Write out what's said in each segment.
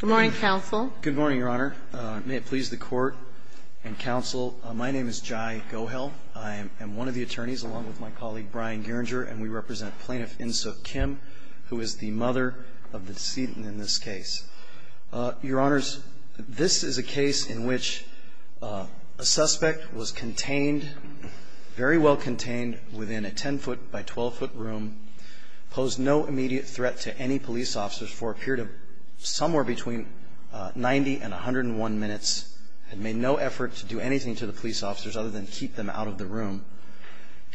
Good morning, counsel. Good morning, Your Honor. May it please the Court and counsel, my name is Jai Gohel. I am one of the attorneys, along with my colleague Brian Gerringer, and we represent Plaintiff Insook Kim, who is the mother of the decedent in this case. Your Honors, this is a case in which a suspect was contained, very well contained, within a 10-foot by 12-foot room, posed no immediate threat to any police officers for a period of somewhere between 90 and 101 minutes, had made no effort to do anything to the police officers other than keep them out of the room,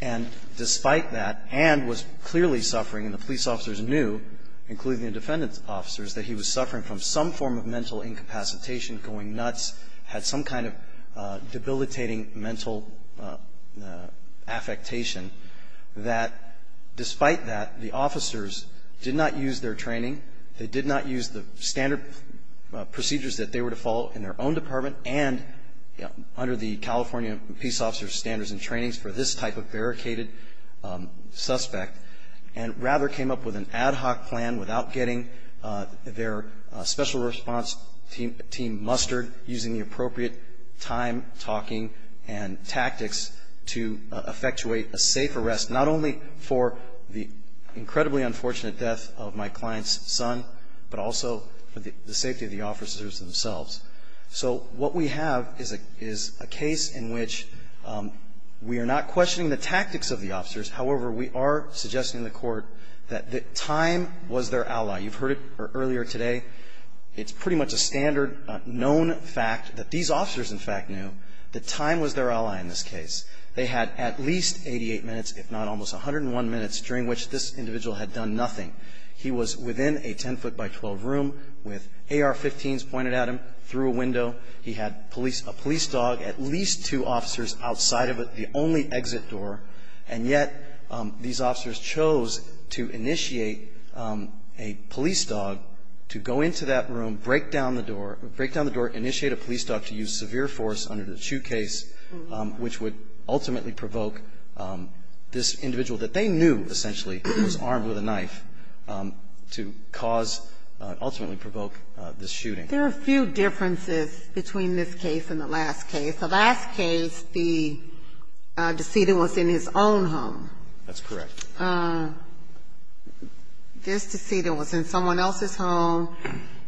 and despite that, and was clearly suffering, and the police officers knew, including the defendant's officers, that he was suffering from some form of mental incapacitation, going nuts, had some kind of debilitating mental affectation, that despite that, the officers did not use their training, they did not use the standard procedures that they were to follow in their own department, and under the California Police Officers Standards and Trainings for this type of barricaded suspect, and rather came up with an ad hoc plan without getting their special response team mustered using the appropriate time, talking, and tactics to effectuate a safe arrest, not only for the incredibly unfortunate death of my client's son, but also for the safety of the officers themselves. So what we have is a case in which we are not questioning the tactics of the officers, however, we are suggesting to the court that time was their ally. You've heard it earlier today, it's pretty much a standard known fact that these officers in fact knew that time was their ally in this case. They had at least 88 minutes, if not almost 101 minutes, during which this individual had done nothing. He was within a 10 foot by 12 room with AR-15s pointed at him through a window, he had a police dog, at least two officers outside of the only exit door, and yet these officers chose to initiate a police dog to go into that room, break down the door, break down the door, initiate a police dog to use severe force under the shoe case, which would ultimately provoke this individual that they knew, essentially, was armed with a knife, to cause, ultimately provoke this shooting. There are a few differences between this case and the last case. The last case, the decedent was in his own home. That's correct. This decedent was in someone else's home,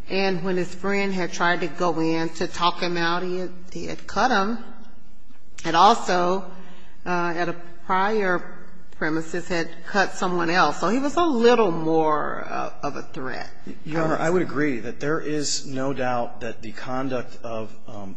and when his friend had tried to go in to talk him out of it, he had cut him, and also, at a prior premises, had cut someone else, so he was a little more of a threat. Your Honor, I would agree that there is no doubt that the conduct of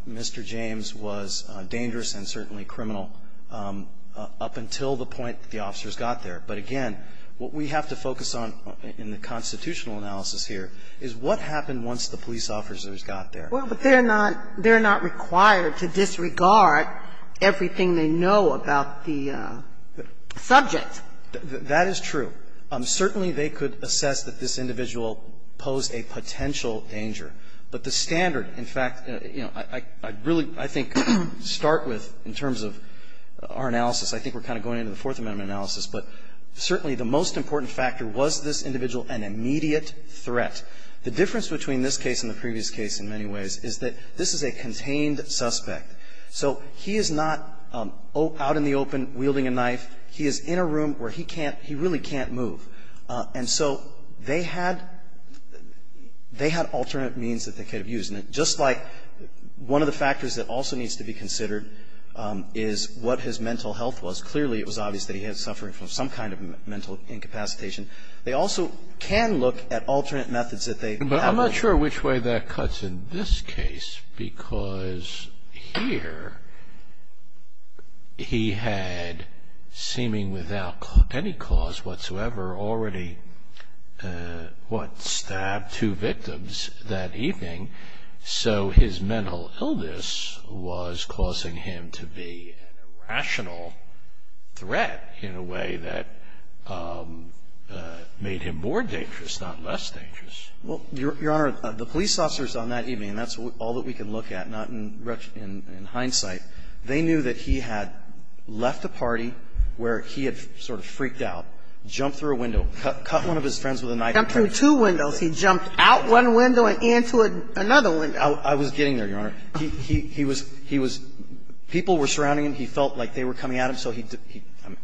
Mr. James was dangerous and certainly criminal up until the point the officers got there. But again, what we have to focus on in the constitutional analysis here is what happened once the police officers got there. Well, but they're not required to disregard everything they know about the subject. That is true. Certainly, they could assess that this individual posed a potential danger. But the standard, in fact, you know, I'd really, I think, start with, in terms of our analysis, I think we're kind of going into the Fourth Amendment analysis, but certainly the most important factor was this individual an immediate threat. The difference between this case and the previous case, in many ways, is that this is a contained suspect. So he is not out in the open wielding a knife. He is in a room where he can't he really can't move. And so they had they had all the information that they could have used. And just like one of the factors that also needs to be considered is what his mental health was. Clearly, it was obvious that he had suffering from some kind of mental incapacitation. They also can look at alternate methods that they have. But I'm not sure which way that cuts in this case, because here he had, seeming without any cause whatsoever, already, what, stabbed two victims that evening. So his mental illness was causing him to be an irrational threat in a way that made him more dangerous, not less dangerous. Well, Your Honor, the police officers on that evening, and that's all that we can look at, not in hindsight, they knew that he had left a party where he had sort of freaked out, jumped through a window, cut one of his friends with a knife. Jumped through two windows. He jumped out one window and into another window. I was getting there, Your Honor. He was he was people were surrounding him. He felt like they were coming at him, so he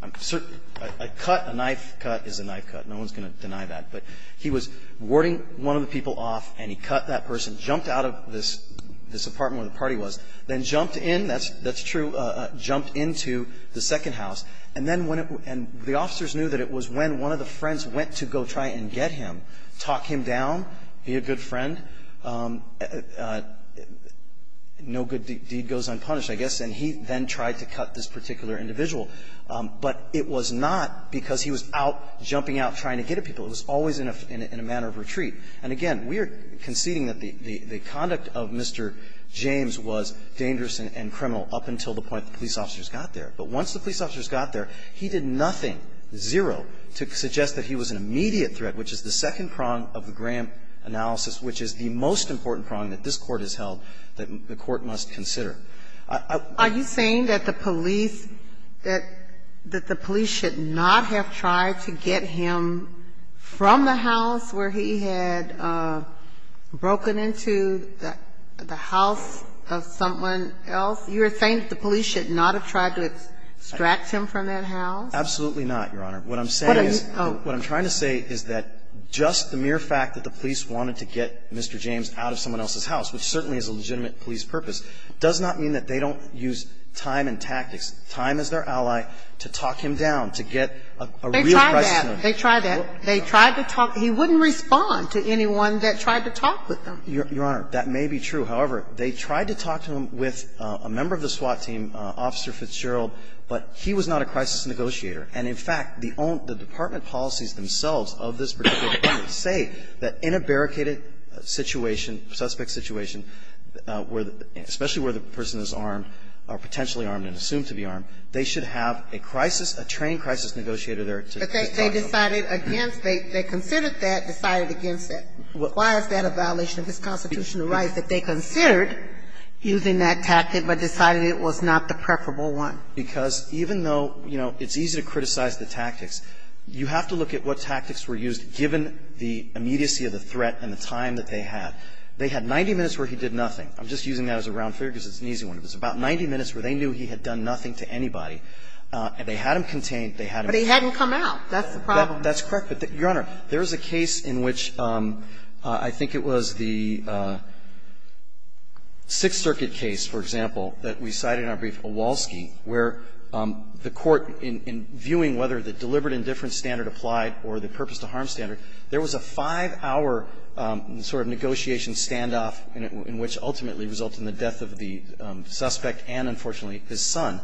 I'm certain a cut, a knife cut is a knife cut. No one's going to deny that. But he was warding one of the people off, and he cut that person, jumped out of this apartment where the party was, then jumped in. That's true. Jumped into the second house. And then when it and the officers knew that it was when one of the friends went to go try and get him, talk him down. He a good friend. No good deed goes unpunished, I guess. And he then tried to cut this particular individual. But it was not because he was out jumping out trying to get at people. It was always in a manner of retreat. And again, we are conceding that the conduct of Mr. James was dangerous and criminal up until the point the police officers got there. But once the police officers got there, he did nothing, zero, to suggest that he was an immediate threat, which is the second prong of the Graham analysis, which is the most important prong that this Court has held that the Court must consider. I Are you saying that the police, that the police should not have tried to get him from the house where he had broken into the house of someone else? You're saying that the police should not have tried to extract him from that house? Absolutely not, Your Honor. What I'm saying is, what I'm trying to say is that just the mere fact that the police wanted to get Mr. James out of someone else's house, which certainly is a legitimate police purpose, does not mean that they don't use time and tactics, time as their ally, to talk him down, to get a real price to him. They tried that. They tried to talk. He wouldn't respond to anyone that tried to talk with them. Your Honor, that may be true. However, they tried to talk to him with a member of the SWAT team, Officer Fitzgerald, but he was not a crisis negotiator. And in fact, the department policies themselves of this particular department say that in a barricaded situation, suspect situation, especially where the person is armed or potentially armed and assumed to be armed, they should have a crisis, a trained crisis negotiator there to talk to them. But they decided against, they considered that, decided against it. Why is that a violation of his constitutional rights that they considered using that tactic, but decided it was not the preferable one? Because even though, you know, it's easy to criticize the tactics, you have to look at what tactics were used given the immediacy of the threat and the time that they had. They had 90 minutes where he did nothing. I'm just using that as a round figure because it's an easy one. It was about 90 minutes where they knew he had done nothing to anybody, and they had him contained, they had him. But he hadn't come out. That's the problem. That's correct. But, Your Honor, there is a case in which I think it was the Sixth Circuit case, for example, that we cited in our brief, Owalski, where the court, in viewing whether the deliberate indifference standard applied or the purpose to harm standard, there was a 5-hour sort of negotiation standoff in which ultimately resulted in the death of the suspect and, unfortunately, his son.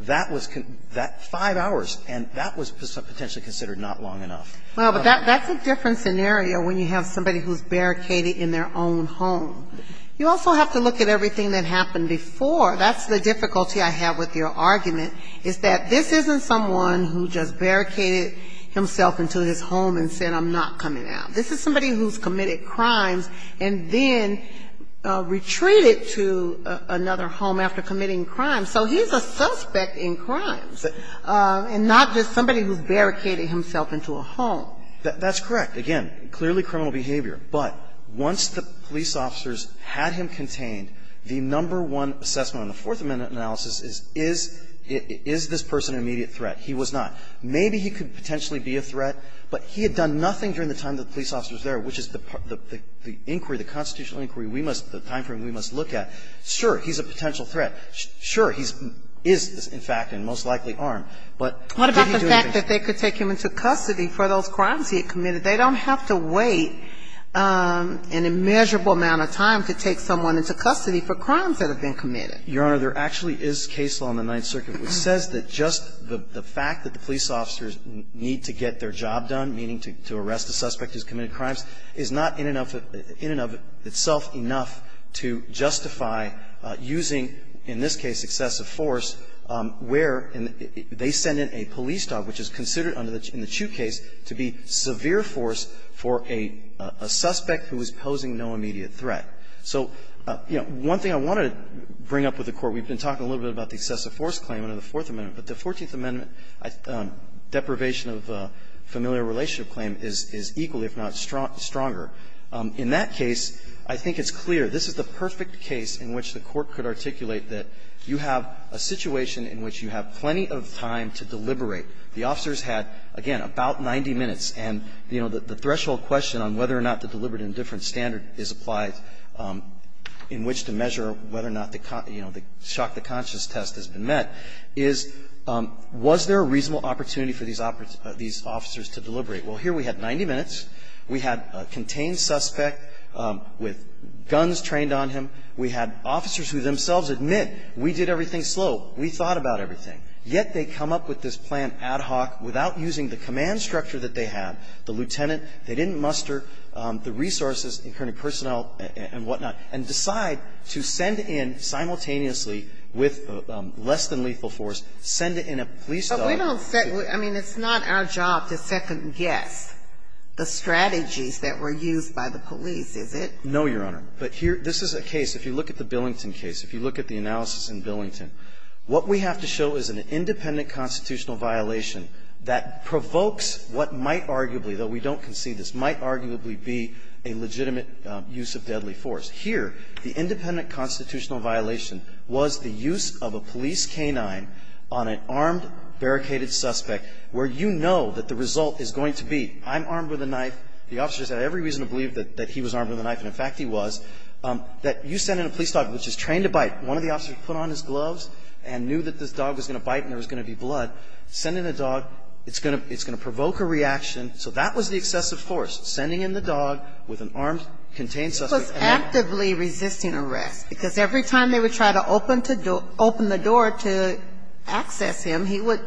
That was the 5 hours, and that was potentially considered not long enough. Well, but that's a different scenario when you have somebody who's barricaded in their own home. You also have to look at everything that happened before. That's the difficulty I have with your argument, is that this isn't someone who just barricaded himself into his home and said, I'm not coming out. This is somebody who's committed crimes and then retreated to another home after committing crimes. So he's a suspect in crimes and not just somebody who's barricaded himself into a home. That's correct. Again, clearly criminal behavior. But once the police officers had him contained, the number one assessment on the Fourth Amendment analysis is, is this person an immediate threat? He was not. Maybe he could potentially be a threat, but he had done nothing during the time the police officers were there, which is the inquiry, the constitutional inquiry, we must, the time frame we must look at. Sure, he's a potential threat. Sure, he is, in fact, and most likely armed. But did he do anything? What about the fact that they could take him into custody for those crimes he had committed? They don't have to wait an immeasurable amount of time to take someone into custody for crimes that have been committed. Your Honor, there actually is case law in the Ninth Circuit which says that just the fact that the police officers need to get their job done, meaning to arrest a suspect who's committed crimes, is not in and of itself enough to justify using in this case excessive force, where they send in a police dog, which is considered under the Chu case, to be severe force for a suspect who is posing no immediate threat. So, you know, one thing I wanted to bring up with the Court, we've been talking a little bit about the excessive force claim under the Fourth Amendment, but the Fourteenth Amendment deprivation of familial relationship claim is equally, if not stronger. In that case, I think it's clear this is the perfect case in which the Court could articulate that you have a situation in which you have plenty of time to deliberate. The officers had, again, about 90 minutes, and, you know, the threshold question on whether or not the deliberate indifference standard is applied in which to measure whether or not the, you know, the shock to conscience test has been met is, was there a reasonable opportunity for these officers to deliberate? Well, here we had 90 minutes. We had a contained suspect with guns trained on him. We had officers who themselves admit, we did everything slow, we thought about everything, yet they come up with this plan ad hoc without using the command structure that they have, the lieutenant, they didn't muster the resources, the incurring personnel and whatnot, and decide to send in simultaneously with less than lethal force, send in a police officer. But we don't set the – I mean, it's not our job to second-guess the strategies that were used by the police, is it? No, Your Honor. But here, this is a case, if you look at the Billington case, if you look at the analysis in Billington, what we have to show is an independent constitutional violation that provokes what might arguably, though we don't concede this, might arguably be a legitimate use of deadly force. Here, the independent constitutional violation was the use of a police canine on an armed, barricaded suspect where you know that the result is going to be, I'm armed with a knife, the officer's had every reason to believe that he was armed with a knife, and in fact, he was, that you send in a police dog, which is trained to bite. One of the officers put on his gloves and knew that this dog was going to bite and there was going to be blood. Send in a dog, it's going to provoke a reaction. So that was the excessive force, sending in the dog with an armed, contained suspect. It was actively resisting arrest, because every time they would try to open the door to access him, he would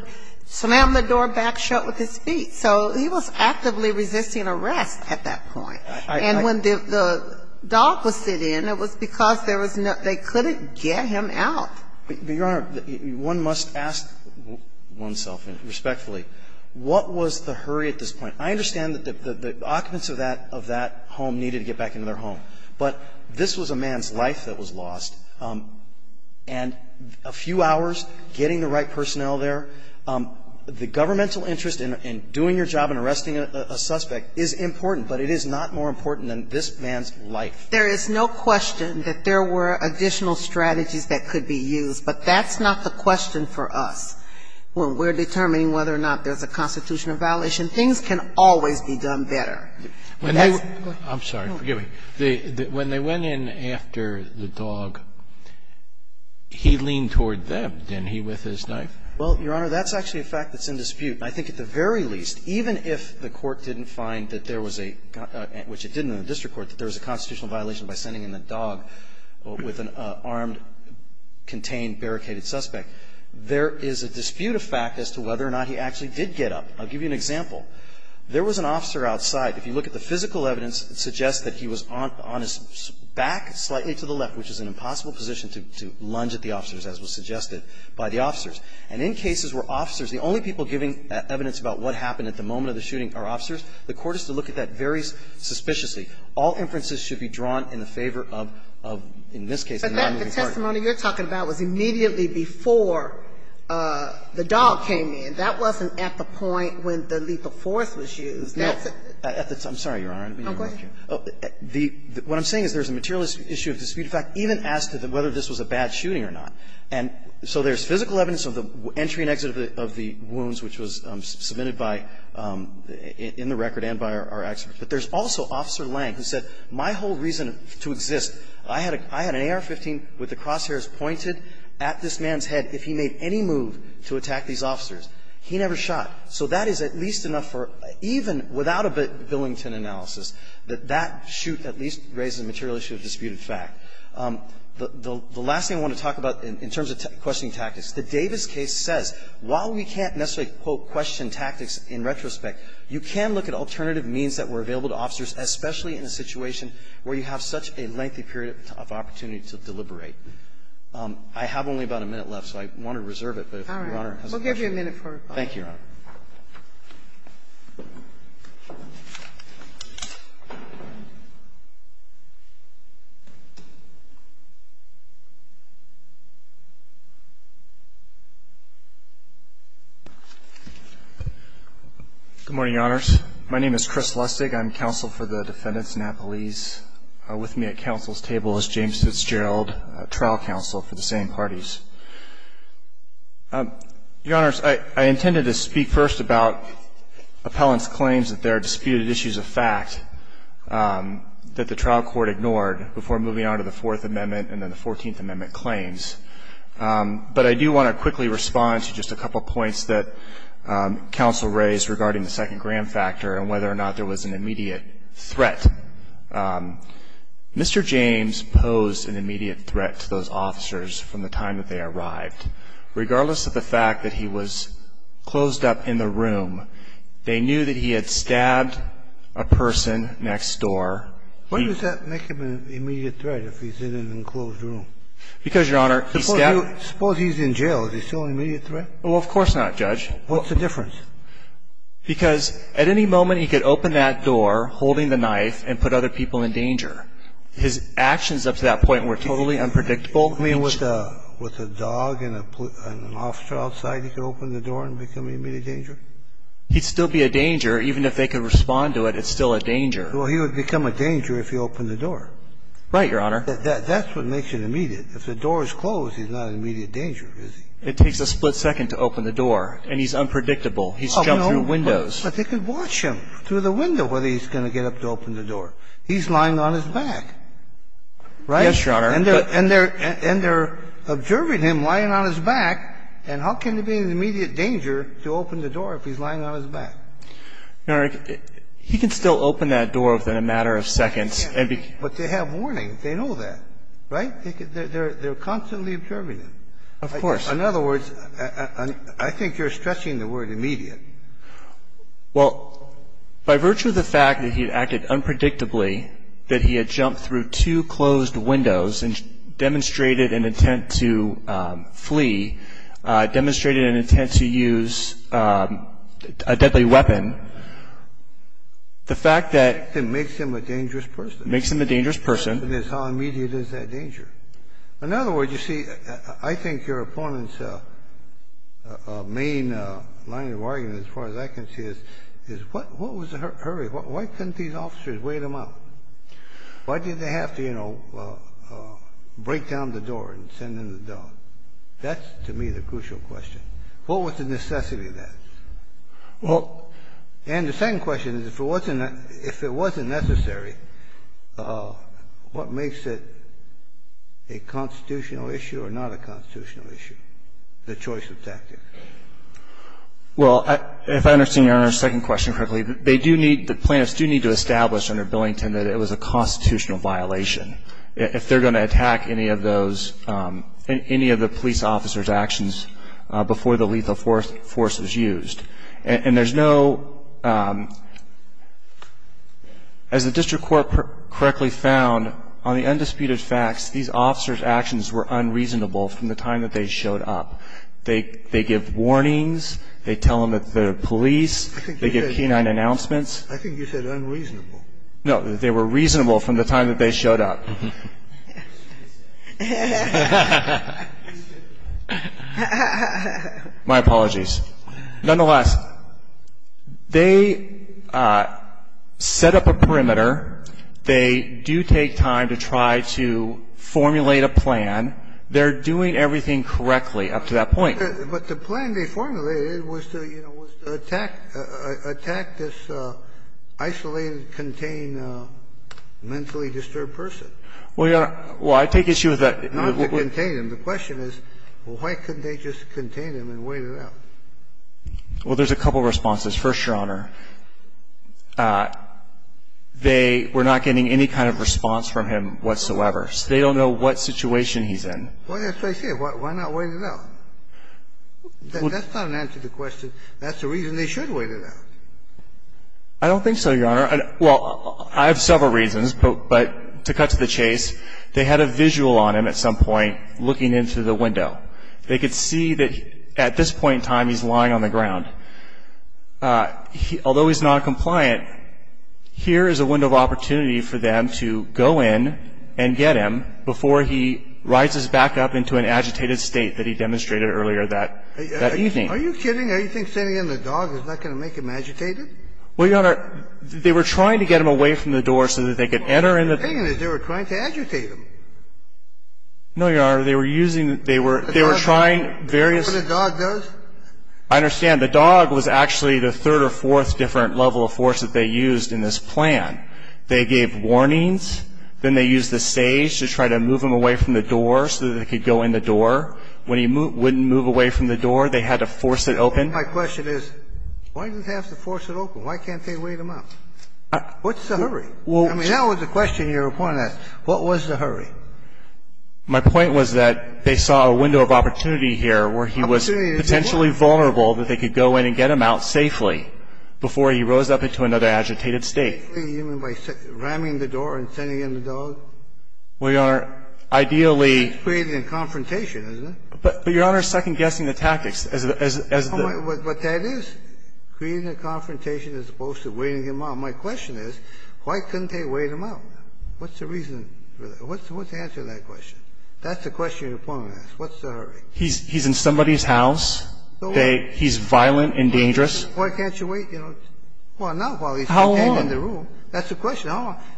slam the door back shut with his feet. So he was actively resisting arrest at that point. And when the dog was sent in, it was because there was no other way. They couldn't get him out. But, Your Honor, one must ask oneself respectfully, what was the hurry at this point? I understand that the occupants of that home needed to get back into their home. But this was a man's life that was lost, and a few hours, getting the right personnel there, the governmental interest in doing your job and arresting a suspect is important, but it is not more important than this man's life. There is no question that there were additional strategies that could be used, but that's not the question for us. When we're determining whether or not there's a constitutional violation, things can always be done better. I'm sorry. Forgive me. When they went in after the dog, he leaned toward them, didn't he, with his knife? Well, Your Honor, that's actually a fact that's in dispute. I think at the very least, even if the court didn't find that there was a got a – which it didn't in the district court, that there was a constitutional violation by sending in the dog with an armed, contained, barricaded suspect, there is a dispute of fact as to whether or not he actually did get up. I'll give you an example. There was an officer outside. If you look at the physical evidence, it suggests that he was on his back slightly to the left, which is an impossible position to lunge at the officers, as was suggested by the officers. And in cases where officers, the only people giving evidence about what happened at the moment of the shooting are officers, the court has to look at that very suspiciously. All inferences should be drawn in the favor of, in this case, the nonmoving party. But that testimony you're talking about was immediately before the dog came in. That wasn't at the point when the lethal force was used. That's a – I'm sorry, Your Honor. I didn't mean to interrupt you. Oh, go ahead. The – what I'm saying is there's a material issue of dispute of fact even as to whether this was a bad shooting or not. And so there's physical evidence of the entry and exit of the wounds, which was submitted by – in the record and by our experts. But there's also Officer Lange, who said, my whole reason to exist, I had an AR-15 with the crosshairs pointed at this man's head if he made any move to attack these officers. He never shot. So that is at least enough for, even without a Billington analysis, that that shoot at least raises a material issue of disputed fact. The last thing I want to talk about in terms of questioning tactics, the Davis case says, while we can't necessarily, quote, question tactics in retrospect, you can look at alternative means that were available to officers, especially in a situation where you have such a lengthy period of opportunity to deliberate. I have only about a minute left, so I want to reserve it. But if Your Honor has a question. Thank you, Your Honor. Good morning, Your Honors. My name is Chris Lustig. I'm counsel for the defendants in Appalese. With me at counsel's table is James Fitzgerald, trial counsel for the same parties. Your Honors, I intended to speak first about appellant's claims that there are disputed issues of fact that the trial court ignored before moving on to the Fourth Amendment and then the Fourteenth Amendment claims. But I do want to quickly respond to just a couple of points that counsel raised regarding the second gram factor and whether or not there was an immediate threat. Mr. James posed an immediate threat to those officers from the time that they were arrested and when they arrived, regardless of the fact that he was closed up in the room, they knew that he had stabbed a person next door. Why does that make him an immediate threat if he's in an enclosed room? Because, Your Honor, he stabbed. Suppose he's in jail, is he still an immediate threat? Well, of course not, Judge. What's the difference? Because at any moment he could open that door, holding the knife, and put other people in danger. His actions up to that point were totally unpredictable. I mean, with a dog and an officer outside, he could open the door and become an immediate danger? He'd still be a danger. Even if they could respond to it, it's still a danger. Well, he would become a danger if he opened the door. Right, Your Honor. That's what makes it immediate. If the door is closed, he's not an immediate danger, is he? It takes a split second to open the door, and he's unpredictable. He's jumped through windows. But they could watch him through the window, whether he's going to get up to open the door. He's lying on his back, right? Yes, Your Honor. And they're observing him lying on his back, and how can he be an immediate danger to open the door if he's lying on his back? Your Honor, he can still open that door within a matter of seconds. But they have warning. They know that, right? They're constantly observing him. Of course. In other words, I think you're stretching the word immediate. Well, by virtue of the fact that he had acted unpredictably, that he had jumped through two closed windows and demonstrated an intent to flee, demonstrated an intent to use a deadly weapon, the fact that he's an immediate danger to open the door, that's how immediate is that danger. In other words, you see, I think your opponent's main line of argument, as far as I can see, is what was the hurry? Why couldn't these officers wait him out? Why did they have to, you know, break down the door and send in the dog? That's, to me, the crucial question. What was the necessity of that? Well, and the second question is, if it wasn't necessary, what makes it a constitutional issue or not a constitutional issue, the choice of tactics? Well, if I understand your Honor's second question correctly, they do need to establish under Billington that it was a constitutional violation, if they're going to attack any of those, any of the police officer's actions before the lethal force was used. And there's no, as the district court correctly found, on the undisputed facts, these officers' actions were unreasonable from the time that they showed up. They give warnings, they tell them that they're police, they give canine announcements. I think you said unreasonable. No. They were reasonable from the time that they showed up. My apologies. Nonetheless, they set up a perimeter. They do take time to try to formulate a plan. They're doing everything correctly up to that point. But the plan they formulated was to, you know, was to attack this isolated, contained, mentally disturbed person. Well, Your Honor, well, I take issue with that. Not to contain him. The question is, well, why couldn't they just contain him and wait it out? Well, there's a couple of responses. First, Your Honor, they were not getting any kind of response from him whatsoever. So they don't know what situation he's in. Well, that's what I said. Why not wait it out? That's not an answer to the question. That's the reason they should wait it out. I don't think so, Your Honor. Well, I have several reasons, but to cut to the chase, they had a visual on him at some point looking into the window. They could see that at this point in time he's lying on the ground. Although he's noncompliant, here is a window of opportunity for them to go in and get him before he rises back up into an agitated state that he demonstrated earlier that evening. Are you kidding? Are you thinking sending in the dog is not going to make him agitated? Well, Your Honor, they were trying to get him away from the door so that they could enter in the door. The thing is, they were trying to agitate him. No, Your Honor. They were using the – they were trying various – Is that what a dog does? I understand. The dog was actually the third or fourth different level of force that they used in this plan. They gave warnings. Then they used the sage to try to move him away from the door so that they could go in the door. When he wouldn't move away from the door, they had to force it open. My question is, why did they have to force it open? Why can't they wait him out? What's the hurry? I mean, that was the question you were pointing at. What was the hurry? My point was that they saw a window of opportunity here where he was potentially vulnerable, that they could go in and get him out safely before he rose up into another agitated state. You mean by ramming the door and sending in the dog? Well, Your Honor, ideally – It's creating a confrontation, isn't it? But Your Honor is second-guessing the tactics as the – But that is creating a confrontation as opposed to waiting him out. My question is, why couldn't they wait him out? What's the reason for that? What's the answer to that question? That's the question you're pointing at. What's the hurry? He's in somebody's house. He's violent and dangerous. Why can't you wait? Well, not while he's contained in the room. That's the question.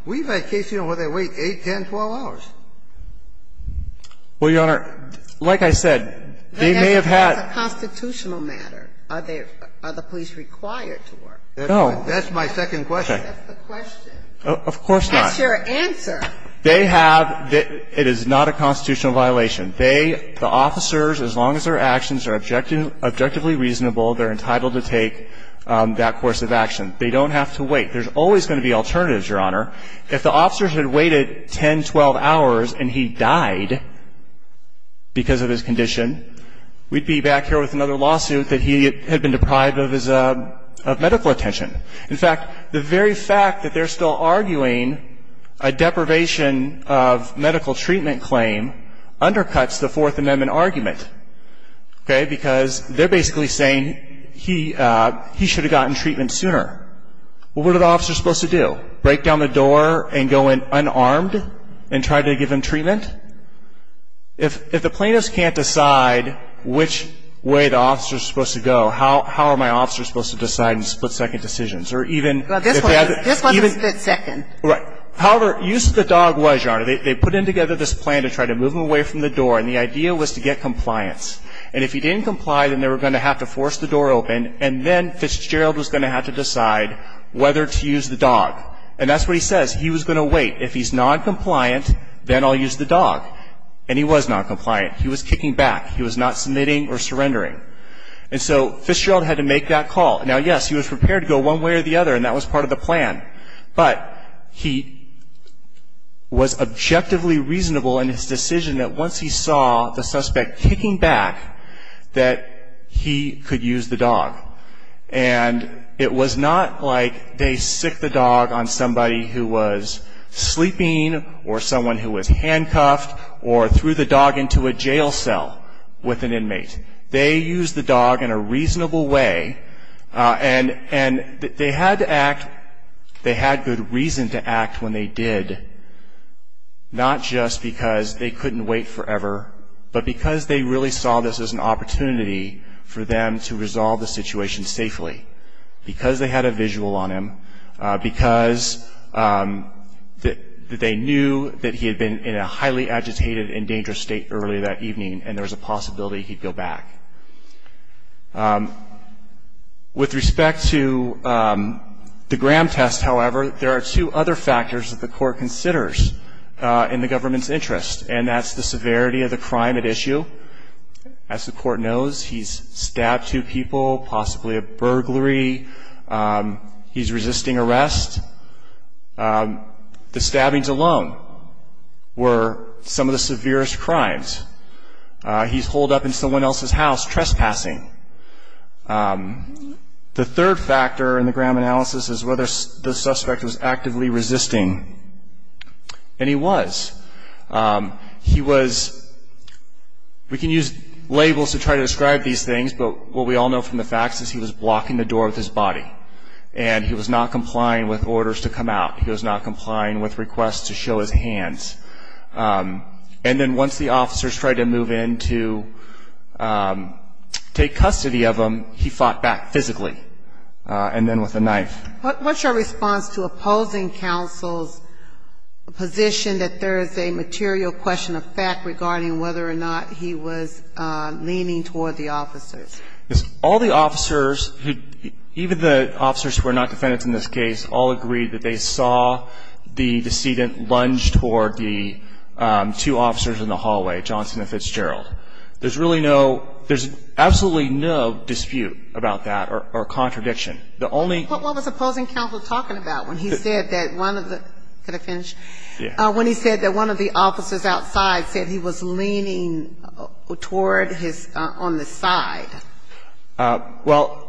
We've had cases where they wait 8, 10, 12 hours. Well, Your Honor, like I said, they may have had – That's a constitutional matter. Are the police required to work? No. That's my second question. That's the question. Of course not. That's your answer. They have – it is not a constitutional violation. They, the officers, as long as their actions are objectively reasonable, they're entitled to take that course of action. They don't have to wait. There's always going to be alternatives, Your Honor. If the officers had waited 10, 12 hours and he died because of his condition, we'd be back here with another lawsuit that he had been deprived of his medical attention. In fact, the very fact that they're still arguing a deprivation of medical treatment claim undercuts the Fourth Amendment argument, okay, because they're basically saying he should have gotten treatment sooner. Well, what are the officers supposed to do? Break down the door and go in unarmed and try to give him treatment? If the plaintiffs can't decide which way the officers are supposed to go, how are my officers supposed to decide in split-second decisions? Or even – Well, this wasn't split-second. Right. However, use of the dog was, Your Honor, they put in together this plan to try to move him away from the door, and the idea was to get compliance. And if he didn't comply, then they were going to have to force the door open, and then Fitzgerald was going to have to decide whether to use the dog. And that's what he says. He was going to wait. If he's noncompliant, then I'll use the dog. And he was noncompliant. He was kicking back. He was not submitting or surrendering. And so Fitzgerald had to make that call. Now, yes, he was prepared to go one way or the other, and that was part of the plan, but he was objectively reasonable in his decision that once he saw the suspect kicking back, that he could use the dog. And it was not like they sick the dog on somebody who was sleeping or someone who was handcuffed or threw the dog into a jail cell with an inmate. They used the dog in a reasonable way, and they had to act – they had good reason to act when they did, not just because they couldn't wait forever, but because they really saw this as an opportunity for them to resolve the situation safely, because they had a visual on him, because they knew that he had been in a highly agitated and dangerous state earlier that evening, and there was a possibility he'd go back. With respect to the Graham test, however, there are two other factors that the court considers in the government's interest, and that's the severity of the crime at issue. As the court knows, he's stabbed two people, possibly a burglary. He's resisting arrest. The stabbings alone were some of the severest crimes. He's holed up in someone else's house, trespassing. The third factor in the Graham analysis is whether the suspect was actively resisting, and he was. He was – we can use labels to try to describe these things, but what we all know from the facts is he was blocking the door with his body, and he was not complying with orders to come out. He was not complying with requests to show his hands. And then once the officers tried to move in to take custody of him, he fought back physically, and then with a knife. What's your response to opposing counsel's position that there is a material question of fact regarding whether or not he was leaning toward the officers? All the officers, even the officers who are not defendants in this case, all agreed that they saw the decedent lunge toward the two officers in the hallway, Johnson and Fitzgerald. There's really no – there's absolutely no dispute about that or contradiction. What was opposing counsel talking about when he said that one of the – can I finish? When he said that one of the officers outside said he was leaning toward his – on the side? Well,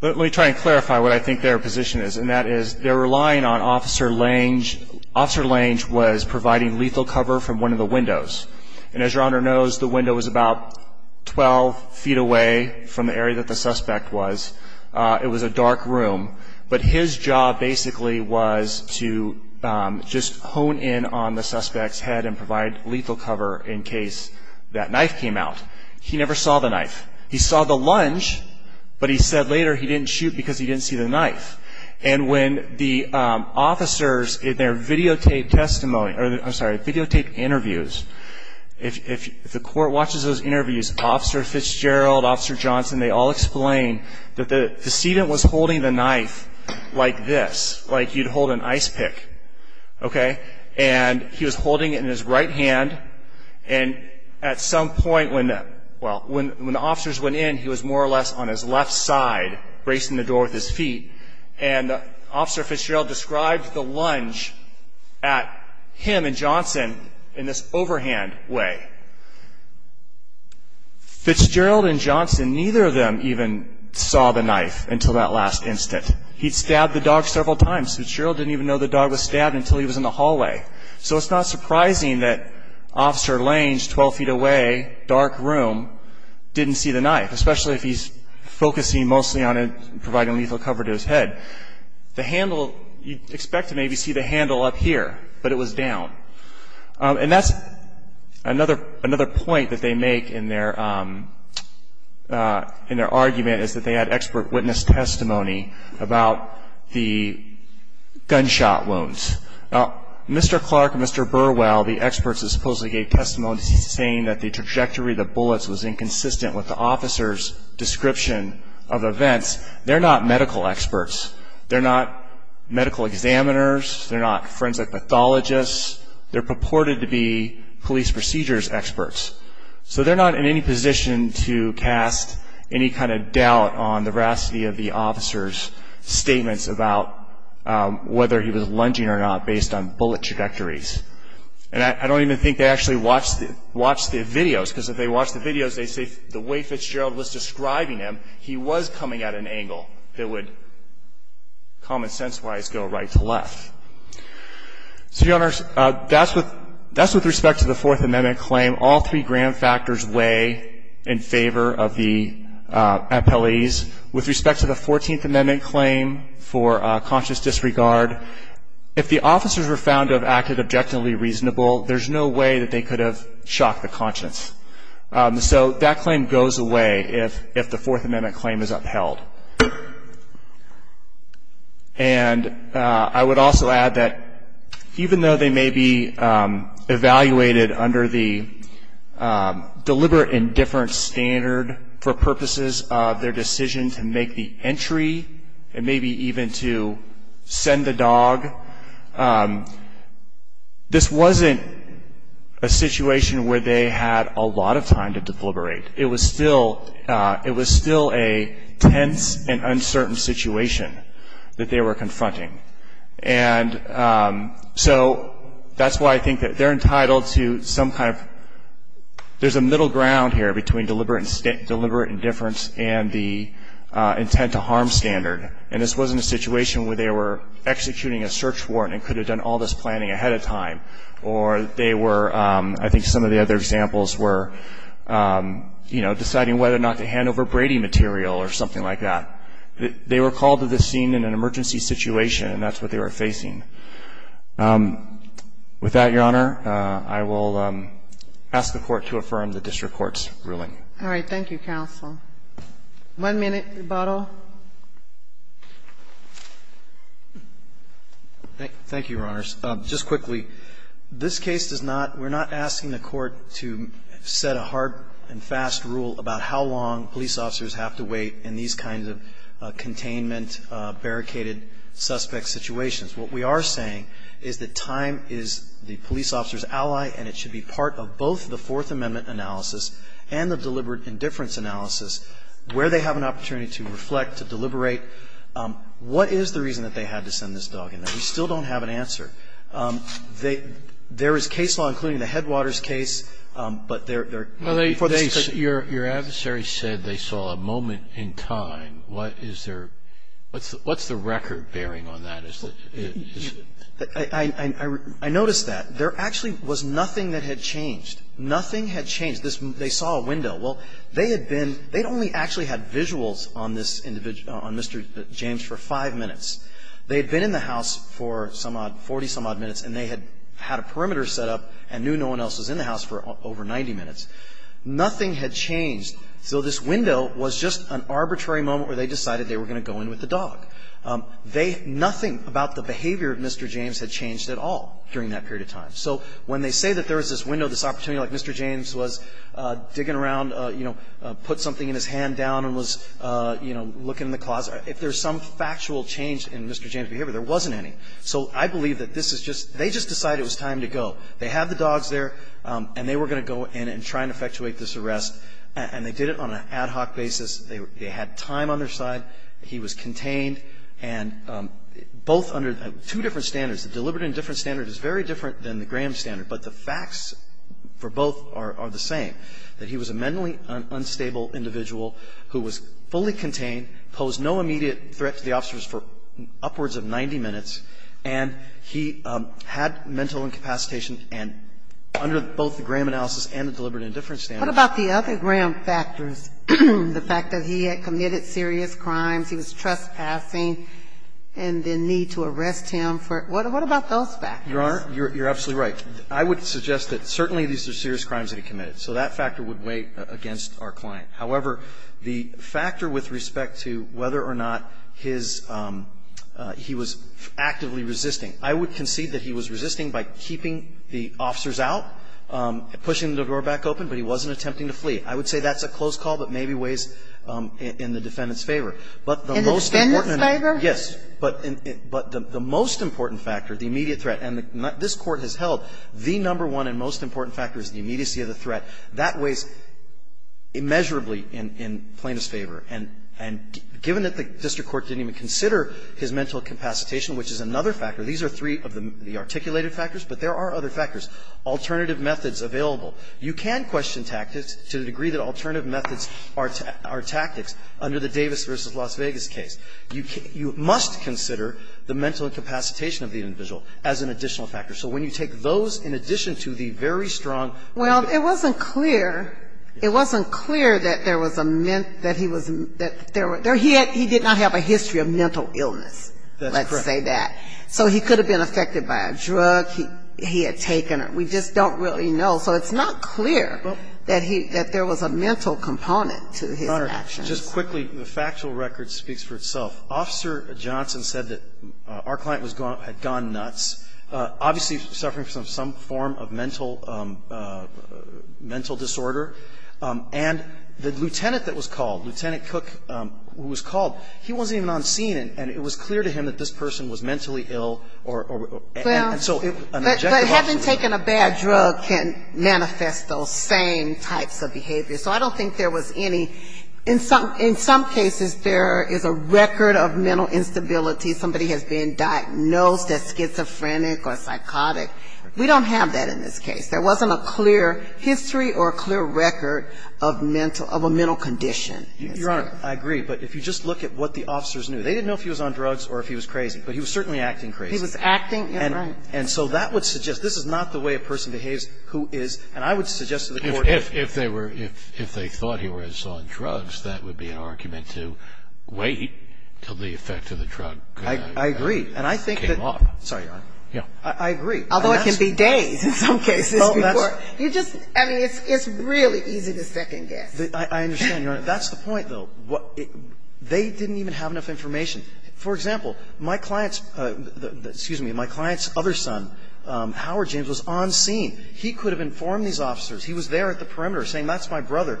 let me try and clarify what I think their position is, and that is they're relying on Officer Lange. Officer Lange was providing lethal cover from one of the windows. And as Your Honor knows, the window was about 12 feet away from the area that the suspect was. It was a dark room. But his job basically was to just hone in on the suspect's head and provide lethal cover in case that knife came out. He never saw the knife. He saw the lunge, but he said later he didn't shoot because he didn't see the knife. And when the officers in their videotaped testimony – I'm sorry, videotaped interviews, if the court watches those interviews, Officer Fitzgerald, Officer Johnson, they all explain that the student was holding the knife like this, like you'd hold an ice pick, okay? And he was holding it in his right hand. And at some point when the – well, when the officers went in, he was more or less on his left side bracing the door with his feet. And Officer Fitzgerald described the lunge at him and Johnson in this overhand way. Fitzgerald and Johnson, neither of them even saw the knife until that last instant. He'd stabbed the dog several times. Fitzgerald didn't even know the dog was stabbed until he was in the hallway. So it's not surprising that Officer Lange, 12 feet away, dark room, didn't see the knife, especially if he's focusing mostly on providing lethal cover to his head. The handle, you'd expect to maybe see the handle up here, but it was down. And that's another point that they make in their argument, is that they had expert witness testimony about the gunshot wounds. Now, Mr. Clark and Mr. Burwell, the experts that supposedly gave testimony saying that the trajectory of the bullets was inconsistent with the officers' description of events, they're not medical experts. They're not medical examiners. They're not forensic pathologists. They're purported to be police procedures experts. So they're not in any position to cast any kind of doubt on the veracity of the officers' statements about whether he was lunging or not based on bullet trajectories. And I don't even think they actually watched the videos, because if they watched the videos, they'd say the way Fitzgerald was describing him, he was coming at an angle that would, common sense-wise, go right to left. So, Your Honors, that's with respect to the Fourth Amendment claim. All three grand factors weigh in favor of the appellees. With respect to the Fourteenth Amendment claim for conscious disregard, if the officers were found to have acted objectively reasonable, there's no way that they could have shocked the conscience. So that claim goes away if the Fourth Amendment claim is upheld. And I would also add that even though they may be evaluated under the deliberate indifference standard for purposes of their decision to make the entry and maybe even to send the dog, this wasn't a situation where they had a lot of time to deliberate. It was still a tense and uncertain situation that they were confronting. And so that's why I think that they're entitled to some kind of there's a middle ground here between deliberate indifference and the intent to harm standard. And this wasn't a situation where they were executing a search warrant and could have done all this planning ahead of time. Or they were, I think some of the other examples were deciding whether or not to hand over Brady material or something like that. They were called to the scene in an emergency situation and that's what they were facing. With that, Your Honor, I will ask the Court to affirm the district court's ruling. All right. Thank you, counsel. One minute rebuttal. Thank you, Your Honors. Just quickly, this case does not we're not asking the Court to set a hard and fast rule about how long police officers have to wait in these kinds of containment, barricaded suspect situations. What we are saying is that time is the police officer's ally and it should be part of both the Fourth Amendment analysis and the deliberate indifference analysis where they have an opportunity to reflect, to deliberate. What is the reason that they had to send this dog in there? We still don't have an answer. There is case law, including the Headwaters case, but they're Your adversary said they saw a moment in time. What is their What's the record bearing on that? I noticed that. There actually was nothing that had changed. Nothing had changed. They saw a window. Well, they had been They'd only actually had visuals on this individual, on Mr. James for five minutes. They had been in the house for some odd, 40-some odd minutes, and they had had a perimeter set up and knew no one else was in the house for over 90 minutes. Nothing had changed. So this window was just an arbitrary moment where they decided they were going to go in with the dog. They, nothing about the behavior of Mr. James had changed at all during that period of time. So when they say that there was this window, this opportunity like Mr. James was digging around, you know, put something in his hand down and was, you know, looking in the closet, if there's some factual change in Mr. James' behavior, there wasn't any. So I believe that this is just, they just decided it was time to go. They had the dogs there, and they were going to go in and try and effectuate this arrest, and they did it on an ad hoc basis. They had time on their side. He was contained, and both under two different standards. The deliberate indifference standard is very different than the Graham standard, but the facts for both are the same, that he was a mentally unstable individual who was fully contained, posed no immediate threat to the officers for upwards of 90 minutes, and he had mental incapacitation, and under both the Graham analysis and the deliberate indifference standard. What about the other Graham factors? The fact that he had committed serious crimes, he was trespassing, and the need to arrest him for it. What about those factors? Your Honor, you're absolutely right. I would suggest that certainly these are serious crimes that he committed. So that factor would weigh against our client. However, the factor with respect to whether or not his – he was actively resisting, I would concede that he was resisting by keeping the officers out, pushing the door back open, but he wasn't attempting to flee. I would say that's a close call, but maybe weighs in the defendant's favor. But the most important – In the defendant's favor? Yes. But the most important factor, the immediate threat, and this Court has held the number one and most important factor is the immediacy of the threat. That weighs immeasurably in Plaintiff's favor. And given that the district court didn't even consider his mental incapacitation, which is another factor, these are three of the articulated factors, but there are other factors, alternative methods available. You can question tactics to the degree that alternative methods are tactics under the Davis v. Las Vegas case. You must consider the mental incapacitation of the individual as an additional factor. So when you take those in addition to the very strong – Well, it wasn't clear – it wasn't clear that there was a – that he was – that there – he did not have a history of mental illness. That's correct. Let's say that. So he could have been affected by a drug. He had taken it. We just don't really know. So it's not clear that he – that there was a mental component to his actions. Your Honor, just quickly, the factual record speaks for itself. Officer Johnson said that our client was – had gone nuts, obviously suffering from some form of mental disorder. And the lieutenant that was called, Lieutenant Cook, who was called, he wasn't even on scene. And it was clear to him that this person was mentally ill or – and so an objective – But having taken a bad drug can manifest those same types of behaviors. So I don't think there was any – in some cases, there is a record of mental instability. Somebody has been diagnosed as schizophrenic or psychotic. We don't have that in this case. There wasn't a clear history or a clear record of mental – of a mental condition. Your Honor, I agree. But if you just look at what the officers knew. They didn't know if he was on drugs or if he was crazy. But he was certainly acting crazy. He was acting – yeah, right. And so that would suggest – this is not the way a person behaves who is – and I would suggest to the court – If they were – if they thought he was on drugs, that would be an argument to wait until the effect of the drug came off. I agree. And I think that – sorry, Your Honor. Yeah. I agree. Although it can be days in some cases before – Well, that's – You just – I mean, it's really easy to second-guess. I understand, Your Honor. That's the point, though. They didn't even have enough information. For example, my client's – excuse me, my client's other son, Howard James, was on scene. He could have informed these officers. He was there at the perimeter saying, that's my brother.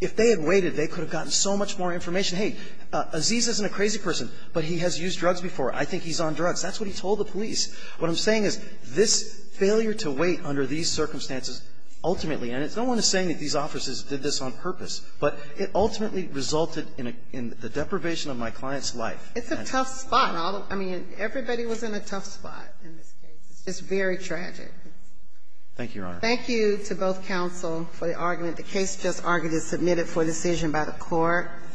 If they had waited, they could have gotten so much more information. Hey, Aziz isn't a crazy person, but he has used drugs before. I think he's on drugs. That's what he told the police. What I'm saying is this failure to wait under these circumstances ultimately – and no one is saying that these officers did this on purpose – but it ultimately resulted in the deprivation of my client's life. It's a tough spot. I mean, everybody was in a tough spot in this case. It's very tragic. Thank you, Your Honor. Thank you to both counsel for the argument. The case just argued is submitted for decision by the court. Thank you.